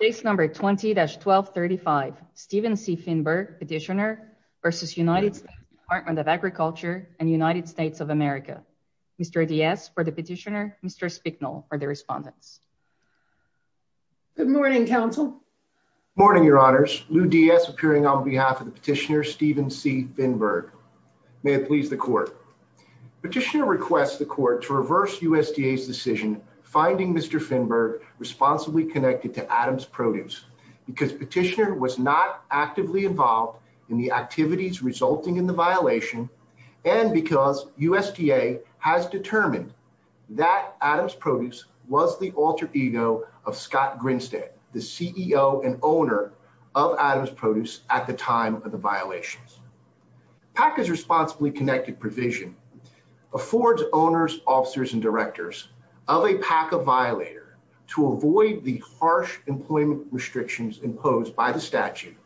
Case number 20-1235 Stephen C. Finberg petitioner v. United States Department of Agriculture and United States of America. Mr. Diaz for the petitioner, Mr. Spicknall for the respondents. Good morning, counsel. Morning, your honors. Lou Diaz appearing on behalf of the petitioner Stephen C. Finberg. May it please the court. Petitioner requests the court to reverse USDA's finding Mr. Finberg responsibly connected to Adams Produce because petitioner was not actively involved in the activities resulting in the violation and because USDA has determined that Adams Produce was the alter ego of Scott Grinstead, the CEO and owner of Adams Produce at the time of the violations. PACA's responsibly connected provision affords owners, officers, and directors of a PACA violator to avoid the harsh employment restrictions imposed by the statute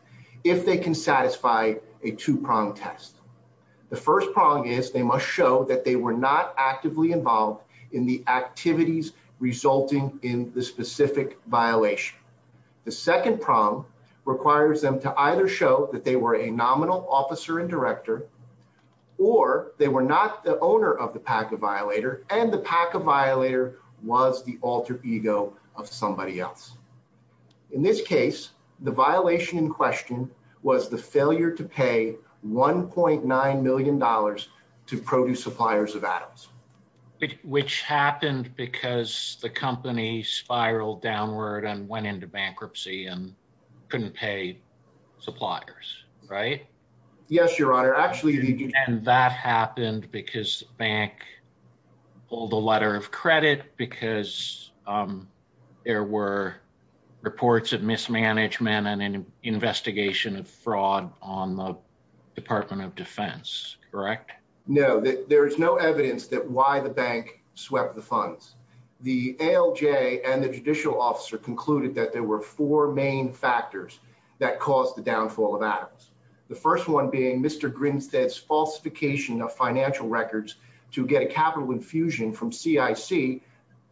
if they can satisfy a two-pronged test. The first prong is they must show that they were not actively involved in the activities resulting in the specific violation. The second prong requires them to either show that they were a nominal officer and director or they were not the owner of the PACA violator and the PACA violator was the alter ego of somebody else. In this case, the violation in question was the failure to pay 1.9 million dollars to produce suppliers of Adams. Which happened because the company spiraled downward and went into bankruptcy and couldn't pay suppliers, right? Yes, your honor. Actually, that happened because the bank pulled a letter of credit because there were reports of mismanagement and an investigation of fraud on the Department of Defense, correct? No, there is no evidence that swept the funds. The ALJ and the judicial officer concluded that there were four main factors that caused the downfall of Adams. The first one being Mr. Grinstead's falsification of financial records to get a capital infusion from CIC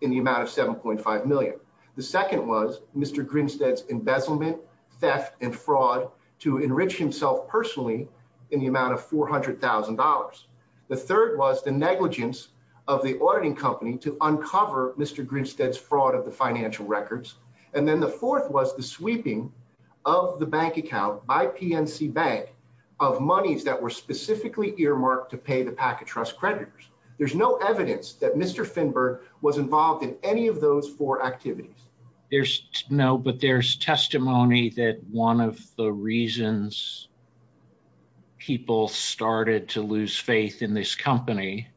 in the amount of 7.5 million. The second was Mr. Grinstead's embezzlement, theft, and fraud to enrich himself personally in the amount of 400,000 dollars. The third was the negligence of the auditing company to uncover Mr. Grinstead's fraud of the financial records. And then the fourth was the sweeping of the bank account by PNC Bank of monies that were specifically earmarked to pay the PACA trust creditors. There's no evidence that Mr. Finberg was involved in any of those four activities. There's no, but there's testimony that one of the reasons people started to lose faith in this company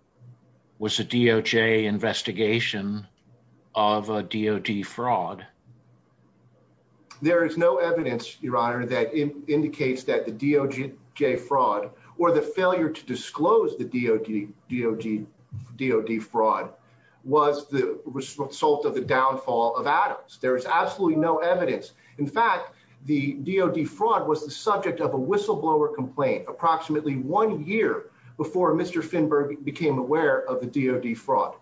was a DOJ investigation of a DOD fraud. There is no evidence, your honor, that indicates that the DOJ fraud or the failure to disclose the DOD fraud was the result of the downfall of Adams. There is absolutely no evidence. In fact, the DOD fraud was the subject of a whistleblower complaint approximately one year before Mr. Finberg became aware of the DOD fraud.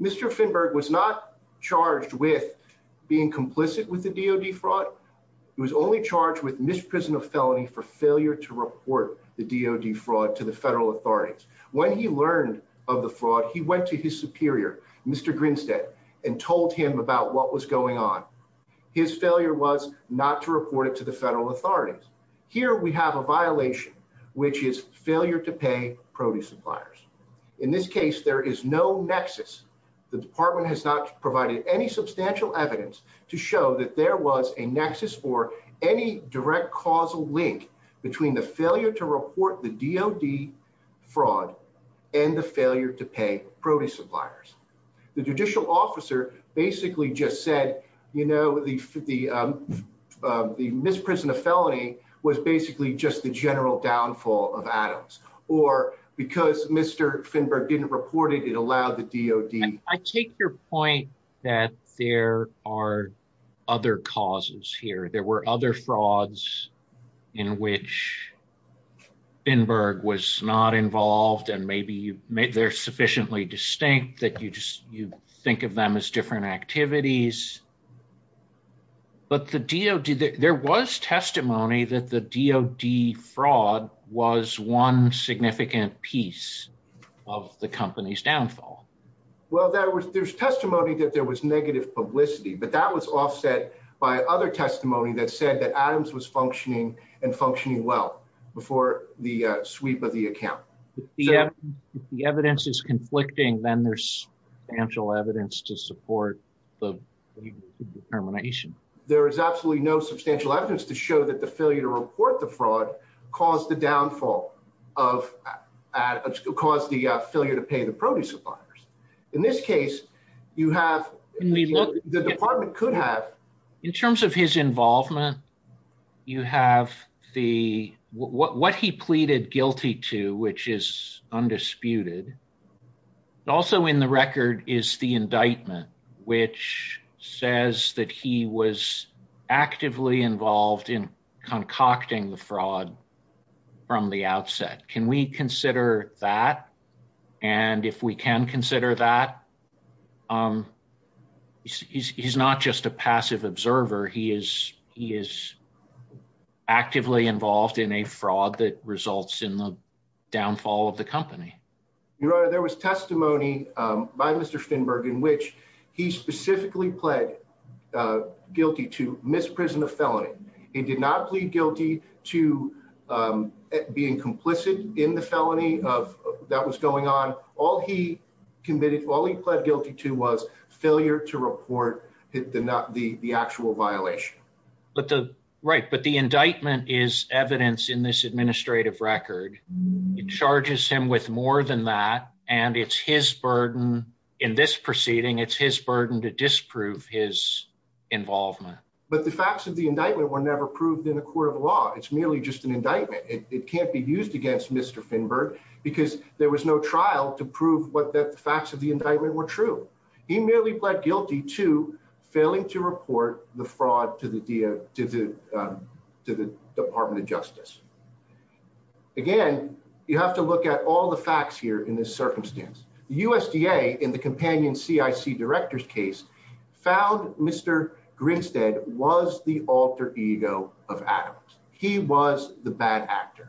Mr. Finberg was not charged with being complicit with the DOD fraud. He was only charged with misprisonment of felony for failure to report the DOD fraud to the federal authorities. When he learned of the fraud, he went to his superior, Mr. Grinstead, and told him about what was going on. His failure was not to report it to the federal authorities. Here we have a violation, which is failure to pay produce suppliers. In this case, there is no nexus. The department has not provided any substantial evidence to show that there was a nexus or any direct causal link between the failure to report the DOD fraud and the failure to pay produce suppliers. The judicial officer basically just said, you know, the misprisonment of felony was basically just the general downfall of Adams, or because Mr. Finberg didn't report it, it allowed the DOD. I take your point that there are other causes here. There were other frauds in which Finberg was not involved, and maybe they're sufficiently distinct that you just you think of them as different activities, but the DOD, there was testimony that the DOD fraud was one significant piece of the company's downfall. Well, there was there's testimony that there was negative publicity, but that was offset by other testimony that said that Adams was functioning and functioning well before the sweep of the account. If the evidence is conflicting, then there's substantial evidence to support the determination. There is absolutely no substantial evidence to that the failure to report the fraud caused the downfall of, caused the failure to pay the produce suppliers. In this case, you have, the department could have. In terms of his involvement, you have the what he pleaded guilty to, which is undisputed. Also in the record is the indictment, which says that he was actively involved in concocting the fraud from the outset. Can we consider that? And if we can consider that, he's not just a passive observer. He is actively involved in a fraud that results in the specifically pled guilty to misprison of felony. He did not plead guilty to being complicit in the felony of that was going on. All he committed, all he pled guilty to was failure to report the actual violation. But the right, but the indictment is evidence in this administrative record. It charges him with more than that. And it's his burden in this to disprove his involvement. But the facts of the indictment were never proved in a court of law. It's merely just an indictment. It can't be used against Mr. Finberg because there was no trial to prove what the facts of the indictment were true. He merely pled guilty to failing to report the fraud to the department of justice. Again, you have to look at all the facts here in this case found Mr. Grinstead was the alter ego of Adams. He was the bad actor,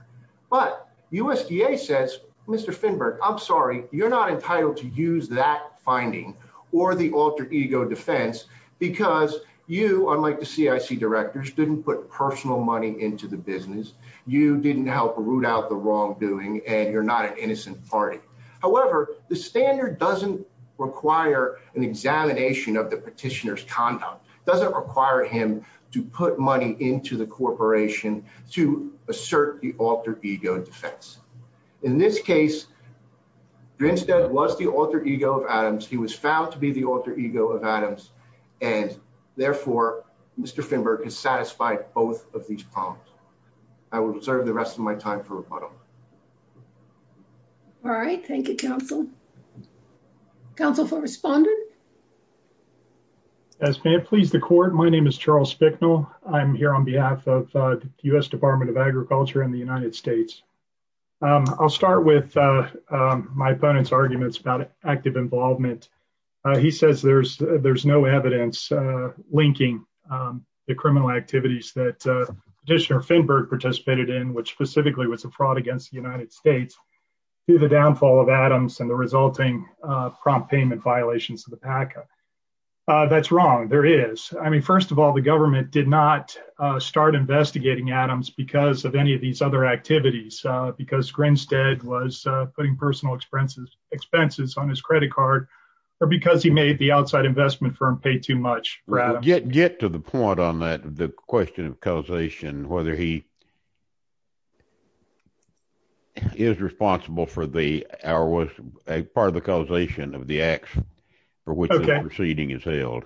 but USDA says, Mr. Finberg, I'm sorry. You're not entitled to use that finding or the alter ego defense because you, unlike the CIC directors didn't put personal money into the business. You didn't help root out the wrongdoing and you're not an innocent party. However, the standard doesn't require an examination of the petitioner's conduct. It doesn't require him to put money into the corporation to assert the alter ego defense. In this case, Grinstead was the alter ego of Adams. He was found to be the alter ego of Adams. And therefore, Mr. Finberg is satisfied both of these problems. I will reserve the rest of my time for rebuttal. All right. Thank you, counsel. Counsel for respondent. As may it please the court. My name is Charles Spicknall. I'm here on behalf of the U.S. Department of Agriculture in the United States. I'll start with my opponent's arguments about active involvement. He says there's no evidence linking the criminal activities that Petitioner Finberg participated in, which specifically was a fraud against the United States, to the downfall of Adams and the resulting prompt payment violations of the PACA. That's wrong. There is. I mean, first of all, the government did not start investigating Adams because of any of these other activities, because Grinstead was putting personal expenses on his credit card or because he made the outside investment firm pay too much. Get to the point on that. The question of causation, whether he. Is responsible for the hour was part of the causation of the acts for which the proceeding is held.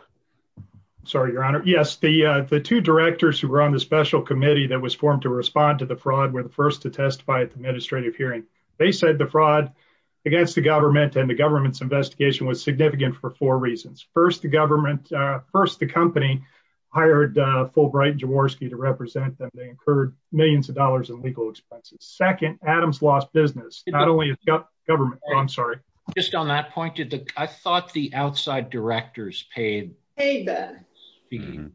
Sorry, your honor. Yes, the the two directors who were on the special committee that was formed to respond to the fraud were the first to testify at the administrative hearing. They said the fraud against the government and the government's investigation was significant for four reasons. First, the government. First, the company hired Fulbright Jaworski to represent them. They incurred millions of dollars in legal expenses. Second, Adams lost business, not only government. I'm sorry, just on that point. I thought the outside directors paid. Hey,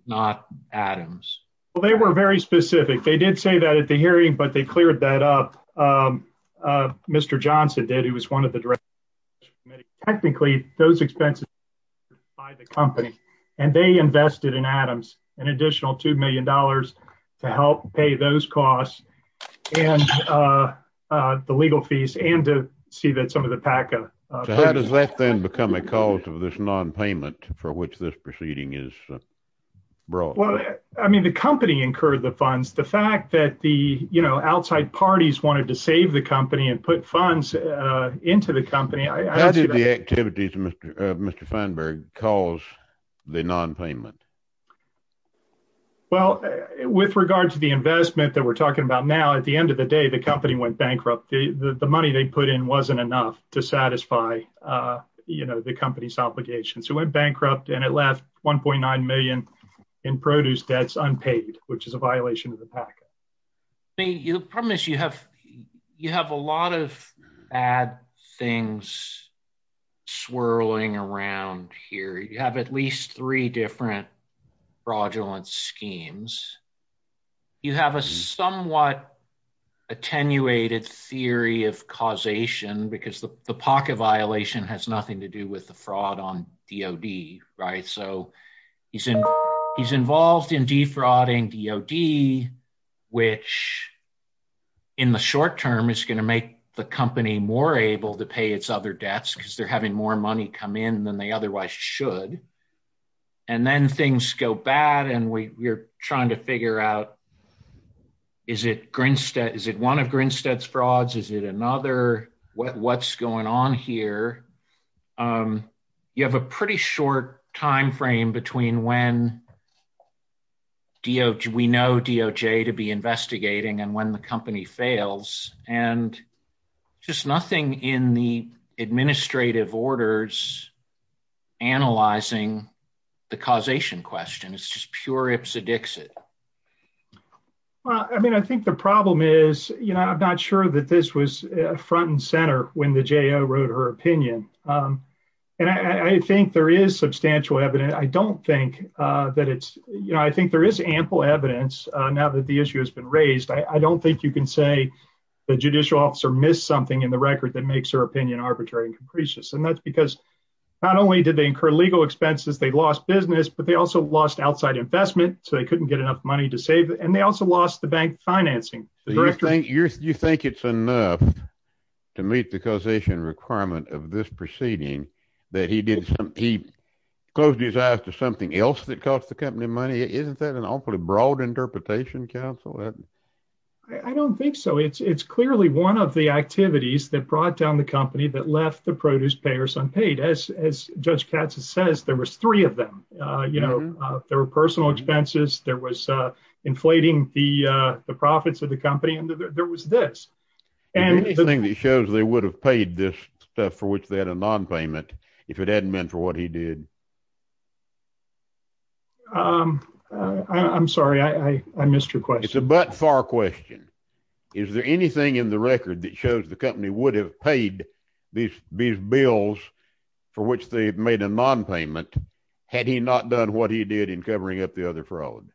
not Adams. Well, they were very specific. They did say that at the hearing, but they cleared that up. Mr. Johnson did. He was one of the directors. Technically, those expenses by the company and they invested in Adams an additional two million dollars to help pay those costs and the legal fees and to see that some of the PACA. So how does that then become a cause of this nonpayment for which this proceeding is brought? Well, I mean, the company incurred the funds. The fact that the, you know, outside parties wanted to save the company and put funds into the company. How did the activities of Mr. Feinberg cause the nonpayment? Well, with regard to the investment that we're talking about now, at the end of the day, the company went bankrupt. The money they put in wasn't enough to satisfy, you know, the company's obligations. It went bankrupt and it left 1.9 million in produce debts unpaid, which is a violation of the PACA. I mean, the problem is you have you have a lot of bad things swirling around here. You have at least three different fraudulent schemes. You have a somewhat attenuated theory of causation because the PACA violation has nothing to do with the fraud on DOD. Right. So he's in he's involved in defrauding DOD, which in the short term is going to make the company more able to pay its other debts because they're having more money come in than they otherwise should. And then things go bad. And we're trying to figure out, is it one of Grinstead's frauds? Is it another? What's going on here? You have a pretty short time frame between when we know DOJ to be investigating and when the company fails and just nothing in the administrative orders analyzing the causation question. It's just pure ipsedixit. Well, I mean, I think the problem is, you know, I'm not sure that this was front and center when the J.O. wrote her opinion. And I think there is substantial evidence. I don't think that it's you know, I think there is ample evidence now that the issue has been raised. I don't think you can say the judicial officer missed something in the record that makes her opinion arbitrary and capricious. And that's because not only did they incur legal expenses, they lost business, but they also lost outside investment. So they couldn't get enough money to save. And they also lost the bank financing. Do you think it's enough to meet the causation requirement of this proceeding that he closed his eyes to something else that cost the company money? Isn't that an awfully broad interpretation, counsel? I don't think so. It's clearly one of the activities that brought down the company that left the produce payers unpaid. As Judge Katz says, there was three of them. You know, there were personal expenses, there was inflating the profits of the company, and there was this. Anything that shows they would have paid this stuff for which they had a non-payment if it hadn't meant for what he did? I'm sorry, I missed your question. It's a butt far question. Is there anything in the record that shows the company would have paid these bills for which they made a non-payment had he not done what he did in covering up the other fraud?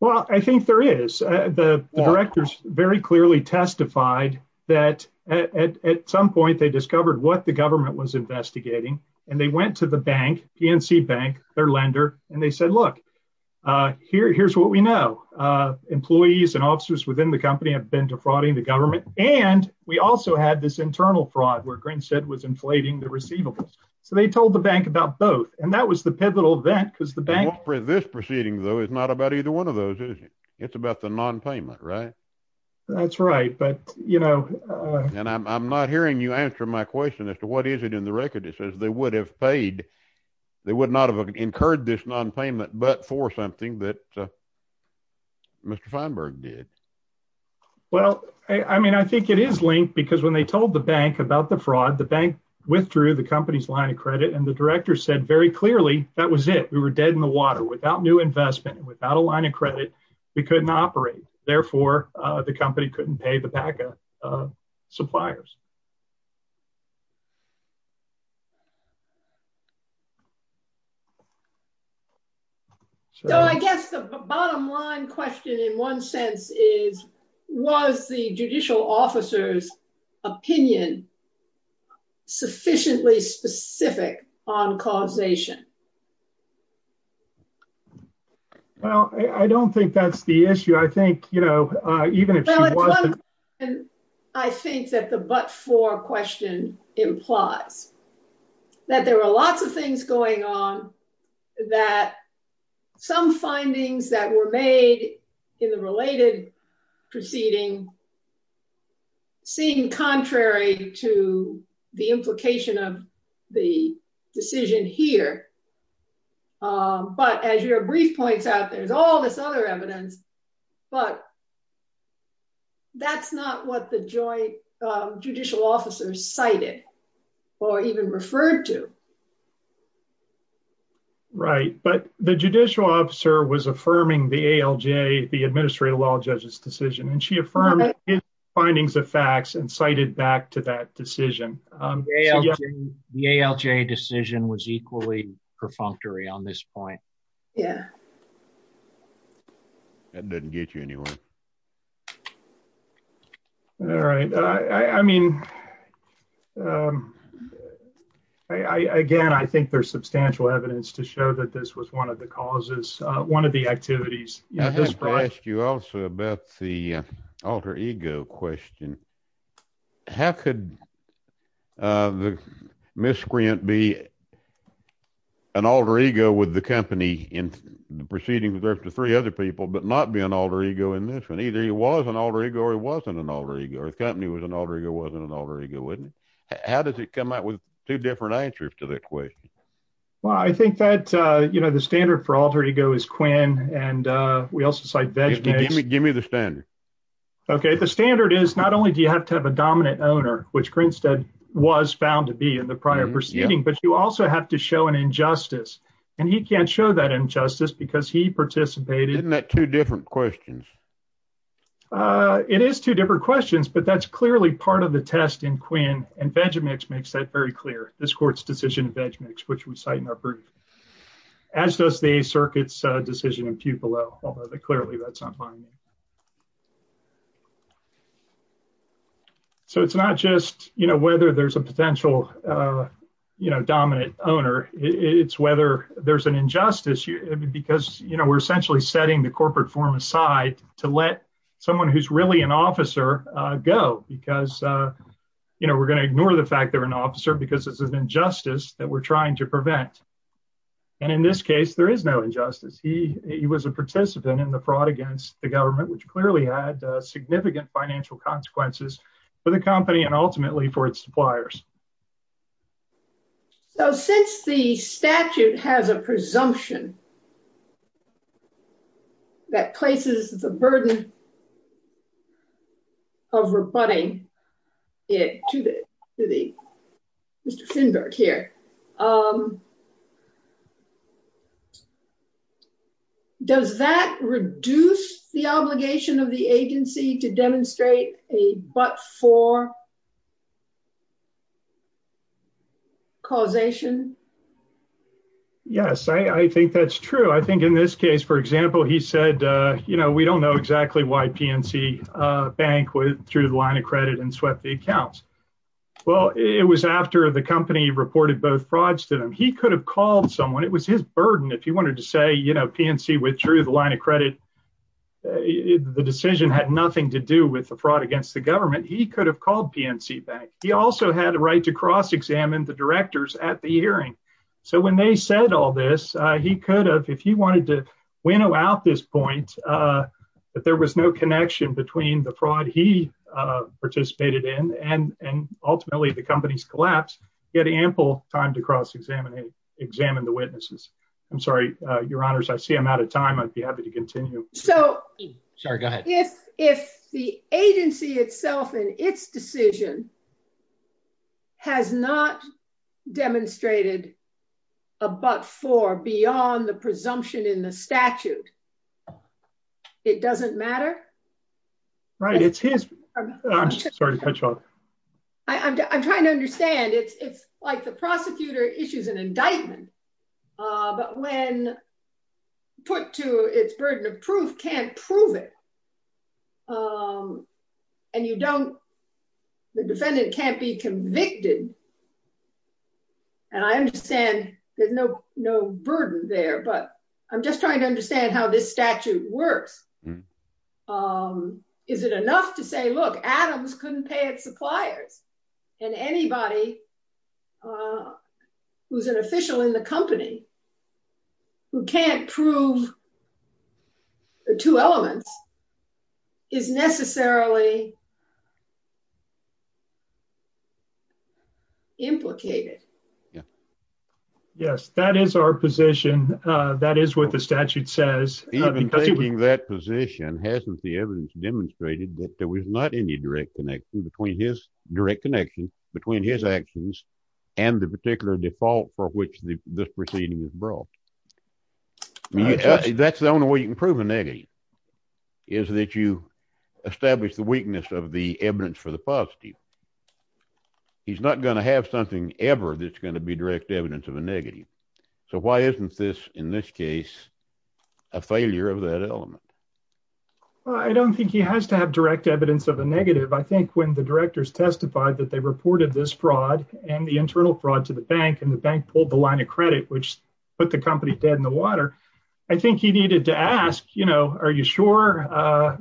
Well, I think there is. The directors very clearly testified that at some point they discovered what the government was investigating. And they went to the bank, PNC Bank, their lender, and they said, look, here's what we know. Employees and officers within the company have been defrauding the government. And we also had this internal fraud where Grinstead was inflating the receivables. So they told the bank about both. And that was the pivotal event because the bank. This proceeding, though, is not about either one of those, is it? It's about the non-payment, right? That's right. But, you know. And I'm not hearing you answer my question as to what is it in the record that says they would have paid, they would not have incurred this non-payment, but for something that Mr. Feinberg did. Well, I mean, I think it is linked because when they told the bank about the fraud, the bank withdrew the company's line of credit. And the director said very clearly that was it. We were dead in the water without new investment and without a line of credit. We couldn't operate. Therefore, the company couldn't pay the PACA suppliers. So I guess the bottom line question in one sense is, was the judicial officer's opinion sufficiently specific on causation? Well, I don't think that's the issue. I think, you know, even if she wasn't. Well, at one point, I think that the bottom line question is, was the judicial officer's opinion that there were lots of things going on that some findings that were made in the related proceeding seemed contrary to the implication of the decision here. But as your brief points out, there's all this other evidence. But that's not what the judicial officer cited or even referred to. Right. But the judicial officer was affirming the ALJ, the administrative law judge's decision, and she affirmed findings of facts and cited back to that decision. The ALJ decision was equally perfunctory on this point. Yeah. That didn't get you anywhere. All right. I mean, again, I think there's substantial evidence to show that this was one of the causes, one of the activities. I have to ask you also about the alter ego question. How could the miscreant be an alter ego with the company in the proceedings after three other people, but not be an alter ego in this one? Either he was an alter ego or he wasn't an alter ego, or the company was an alter ego, wasn't an alter ego, wasn't it? How does it come out with two different answers to that question? Well, I think that the standard for alter ego is Quinn, and we also cite Vejda as- Give me the standard. Okay. The standard is not only do you have to have a dominant owner, which Grinstead was found to be in the prior proceeding, but you also have to show an injustice. And he can't show that injustice because he participated- Isn't that two different questions? It is two different questions, but that's clearly part of the test in Quinn, and Vejda Mix makes that very clear. This court's decision in Vejda Mix, which we cite in our proof, as does the circuit's decision in Pupil-L, although clearly that's not mine. So it's not just whether there's a potential dominant owner, it's whether there's an corporate form aside to let someone who's really an officer go because we're going to ignore the fact they're an officer because it's an injustice that we're trying to prevent. And in this case, there is no injustice. He was a participant in the fraud against the government, which clearly had significant financial consequences for the company and ultimately for its suppliers. So since the statute has a presumption that places the burden of rebutting it to the- Mr. Finberg here. Does that reduce the obligation of the agency to demonstrate a but-for causation? Yes, I think that's true. I think in this case, for example, he said, we don't know exactly why PNC Bank withdrew the line of credit and swept the accounts. Well, it was after the company reported both frauds to them. He could have called someone, it was his burden. If he wanted to say, PNC withdrew the line of credit, the decision had nothing to do with the fraud against the government, he could have called PNC Bank. He also had a right to cross-examine the directors at the hearing. So when they said all this, he could have, if he wanted to winnow out this point, that there was no connection between the fraud he participated in and ultimately the company's collapse, he had ample time to cross-examine the witnesses. I'm sorry, Your Honors, I see I'm out of time. I'd be happy to continue. So- Sorry, go ahead. If the agency itself in its decision has not demonstrated a but-for beyond the presumption in the statute, it doesn't matter? Right, it's his- I'm sorry to cut you off. I'm trying to understand. It's like the prosecutor issues an indictment, but when put to its burden of proof, can't prove it. And you don't- the defendant can't be convicted. And I understand there's no burden there, but I'm just trying to understand how this statute works. Is it enough to say, look, Adams couldn't pay its suppliers, and anybody who's an official in the company who can't prove the two elements is necessarily implicated? Yes, that is our position. That is what the statute says. Even taking that position, hasn't the evidence demonstrated that there was not any direct connection between his- direct connection between his actions and the particular default for which this proceeding is brought? That's the only way you can prove a negative, is that you establish the weakness of the evidence for the positive. He's not going to have something ever that's going to be direct evidence of a negative. So why isn't this, in this case, a failure of that element? Well, I don't think he has to have direct evidence of a negative. I think when the directors testified that they reported this fraud and the internal fraud to the bank, and the bank pulled the line of credit, which put the company dead in the water, I think he needed to ask, you know, are you sure?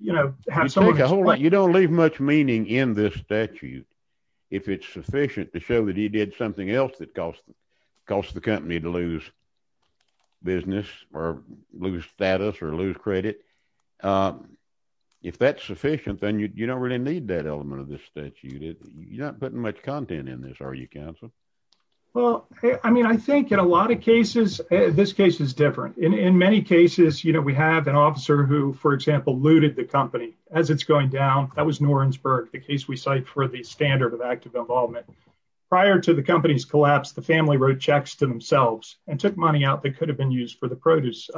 You know, have someone explain- You don't leave much meaning in this statute if it's sufficient to show that he did something else that caused the company to lose business, or lose status, or lose credit. If that's sufficient, then you don't really need that element of the statute. You're not putting much content in this, are you, counsel? Well, I mean, I think in a lot of cases, this case is different. In many cases, you know, we have an officer who, for example, looted the company as it's going down. That was Norensberg, the case we cite for the standard of active involvement. Prior to the company's collapse, the family wrote checks to themselves and took money out that could have been used for the produce.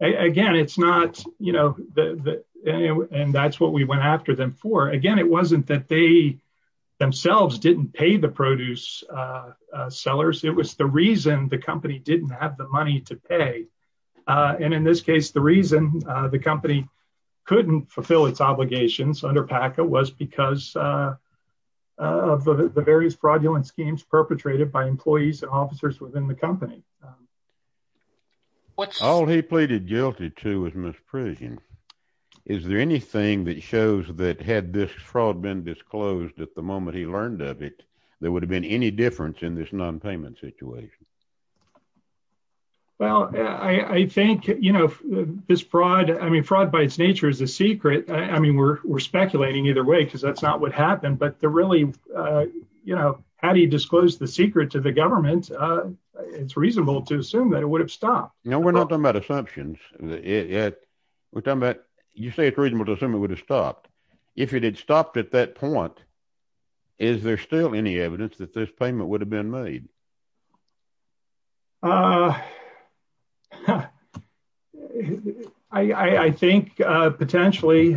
Again, it's not, you know, and that's what we went after them for. Again, it wasn't that they themselves didn't pay the produce sellers. It was the reason the company didn't have the money to pay. And in this case, the reason the company couldn't fulfill its obligations under PACA was because of the various fraudulent schemes perpetrated by employees and officers within the company. All he pleaded guilty to was misprision. Is there anything that shows that had this fraud been disclosed at the moment he learned of it, there would have been any difference in this non-payment situation? Well, I think, you know, this fraud, I mean, fraud by its nature is a secret. I mean, we're speculating either way because that's not what happened. But the really, you know, how do you disclose the secret to the government? It's reasonable to assume that it would have stopped. Now, we're not talking about assumptions. We're talking about, you say it's reasonable to assume it would have stopped. If it had stopped at that point, is there still any evidence that this payment would have been made? Uh, I think potentially,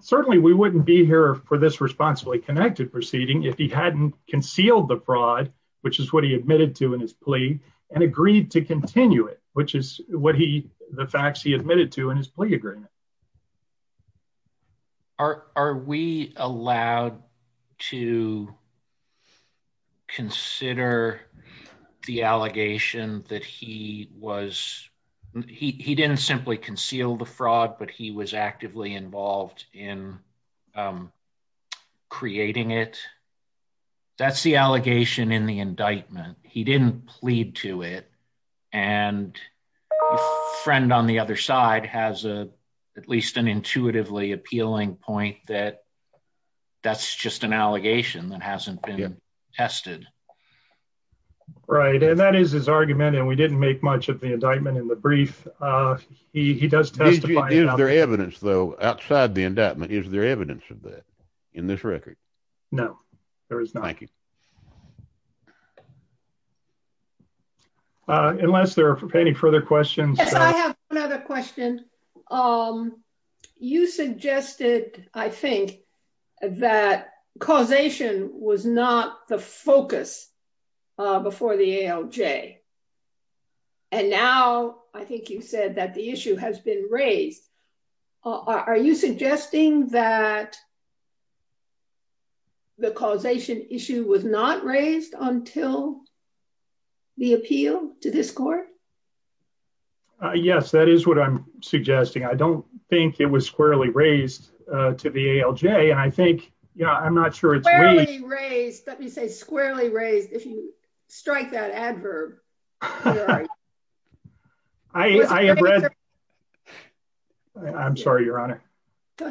certainly we wouldn't be here for this responsibly connected proceeding if he hadn't concealed the fraud, which is what he admitted to in his plea and agreed to continue it, which is what he, the facts he admitted to in his plea agreement. Um, are, are we allowed to consider the allegation that he was, he, he didn't simply conceal the fraud, but he was actively involved in, um, creating it. That's the allegation in the indictment. He didn't plead to it. And a friend on the other side has a, at least an intuitively appealing point that that's just an allegation that hasn't been tested. Right. And that is his argument. And we didn't make much of the indictment in the brief. Uh, he, he does testify. Is there evidence though, outside the indictment, is there evidence of that in this record? No, there is not. Uh, unless there are any further questions. Yes, I have another question. Um, you suggested, I think that causation was not the focus, uh, before the ALJ. And now I think you said that the issue has been raised. Are you suggesting that the causation issue was not raised until the appeal to this court? Yes, that is what I'm suggesting. I don't think it was squarely raised, uh, to the ALJ. And I think, you know, I'm not sure it's raised. Let me say squarely raised. If you strike that adverb. All right. I, I read, I'm sorry, your honor.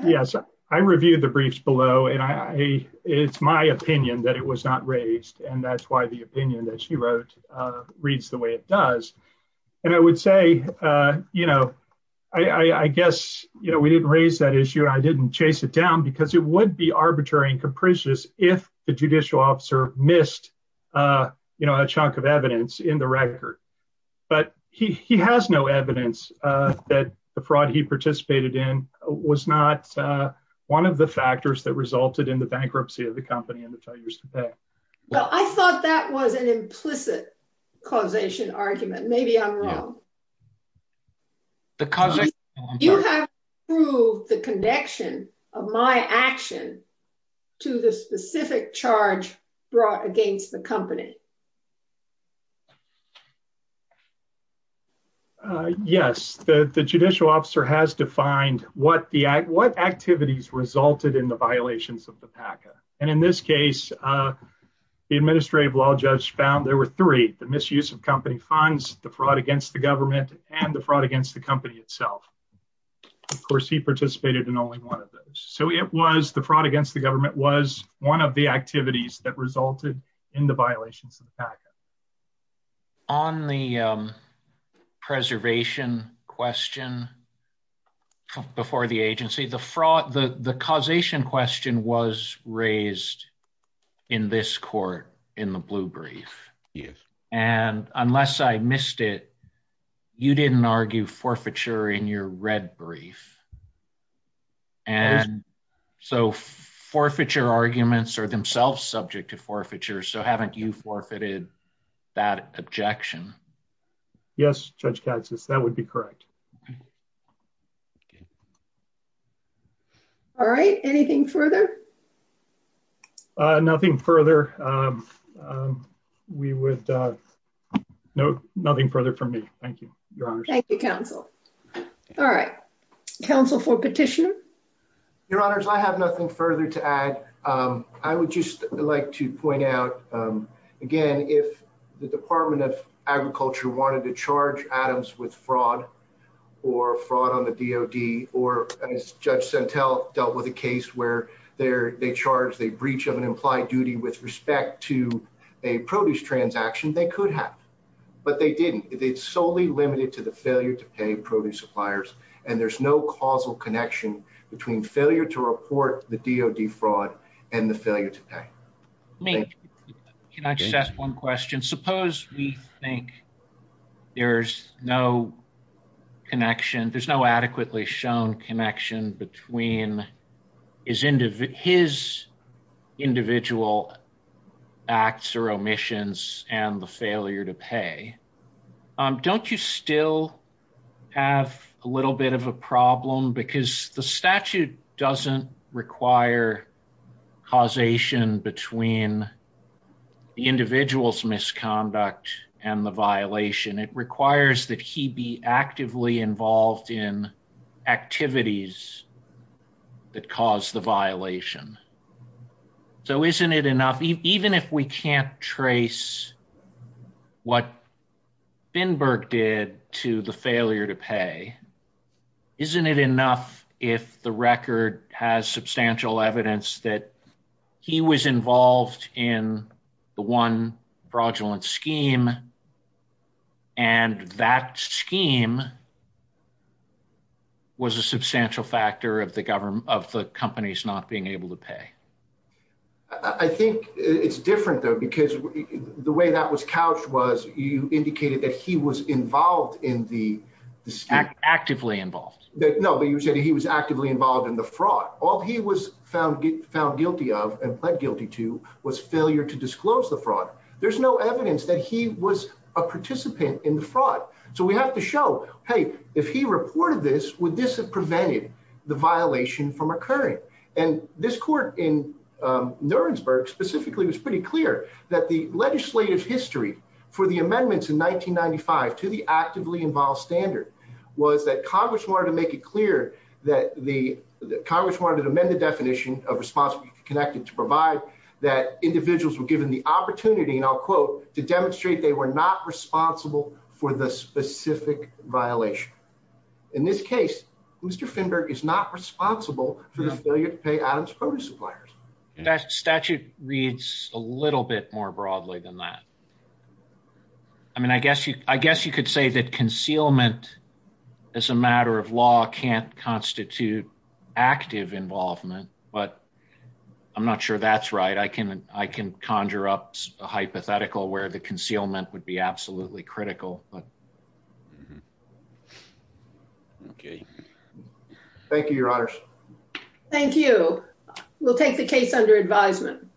Yes. I reviewed the briefs below and I, I, it's my opinion that it was not raised. And that's why the opinion that she wrote, uh, reads the way it does. And I would say, uh, you know, I, I, I guess, you know, we didn't raise that issue. I didn't chase it down because it would be arbitrary and capricious if the judicial officer missed, uh, you know, a chunk of evidence in the record. But he, he has no evidence, uh, that the fraud he participated in was not, uh, one of the factors that resulted in the bankruptcy of the company and the 10 years to pay. Well, I thought that was an implicit causation argument. Maybe I'm wrong. The causation argument. Through the connection of my action to the specific charge brought against the company. Uh, yes, the, the judicial officer has defined what the act, what activities resulted in the violations of the PACA. And in this case, uh, the administrative law judge found there were three, the misuse of company funds, the fraud against the government and the fraud against the company itself. Of course he participated in only one of those. So it was the fraud against the government was one of the activities that resulted in the violations of the PACA. On the, um, preservation question before the agency, the fraud, the, the causation question was raised in this court, in the blue brief. Yes. And unless I missed it, you didn't argue forfeiture in your red brief. And so forfeiture arguments are themselves subject to forfeiture. So haven't you forfeited that objection? Yes. Judge Katz says that would be correct. All right. Anything further? Nothing further. Um, um, we would, uh, no, nothing further from me. Thank you, your honor. Thank you, counsel. All right. Counsel for petitioner. Your honors. I have nothing further to add. Um, I would just like to point out, um, again, if the department of agriculture wanted to charge Adams with fraud or fraud on the DOD, or as judge Sentel dealt with a case where they're, they charge the breach of an implied duty with respect to a produce transaction, they could have, but they didn't. It's solely limited to the failure to pay produce suppliers. And there's no causal connection between failure to report the DOD fraud and the failure to pay. Can I just ask one question? Suppose we think there's no connection. Between his individual acts or omissions and the failure to pay. Um, don't you still have a little bit of a problem because the statute doesn't require causation between the individual's misconduct and the violation. It requires that he be actively involved in activities that cause the violation. So, isn't it enough, even if we can't trace what Finberg did to the failure to pay, isn't it enough if the record has substantial evidence that he was involved in the one fraudulent scheme. And that scheme. Was a substantial factor of the government of the companies not being able to pay I think it's different, though, because the way that was couched was you indicated that he was involved in the stack actively involved. No, but you said he was actively involved in the fraud. All he was found get found guilty of and pled guilty to was failure to disclose the fraud. There's no evidence that he was a participant in the fraud. So we have to show. Hey, if he reported this would this have prevented the violation from occurring. And this court in Nuremberg specifically was pretty clear that the legislative history for the amendments in 1995 to the actively involved standard. Was that Congress wanted to make it clear that the Congress wanted to amend the definition of provide that individuals were given the opportunity and I'll quote to demonstrate they were not responsible for the specific violation. In this case, who's defender is not responsible for the failure to pay Adams produce suppliers. That statute reads a little bit more broadly than that. I mean, I guess you, I guess you could say that concealment as a matter of law can't constitute active involvement, but I'm not sure that's right. I can I can conjure up a hypothetical where the concealment would be absolutely critical. Okay, thank you, your honors. Thank you. We'll take the case under advisement.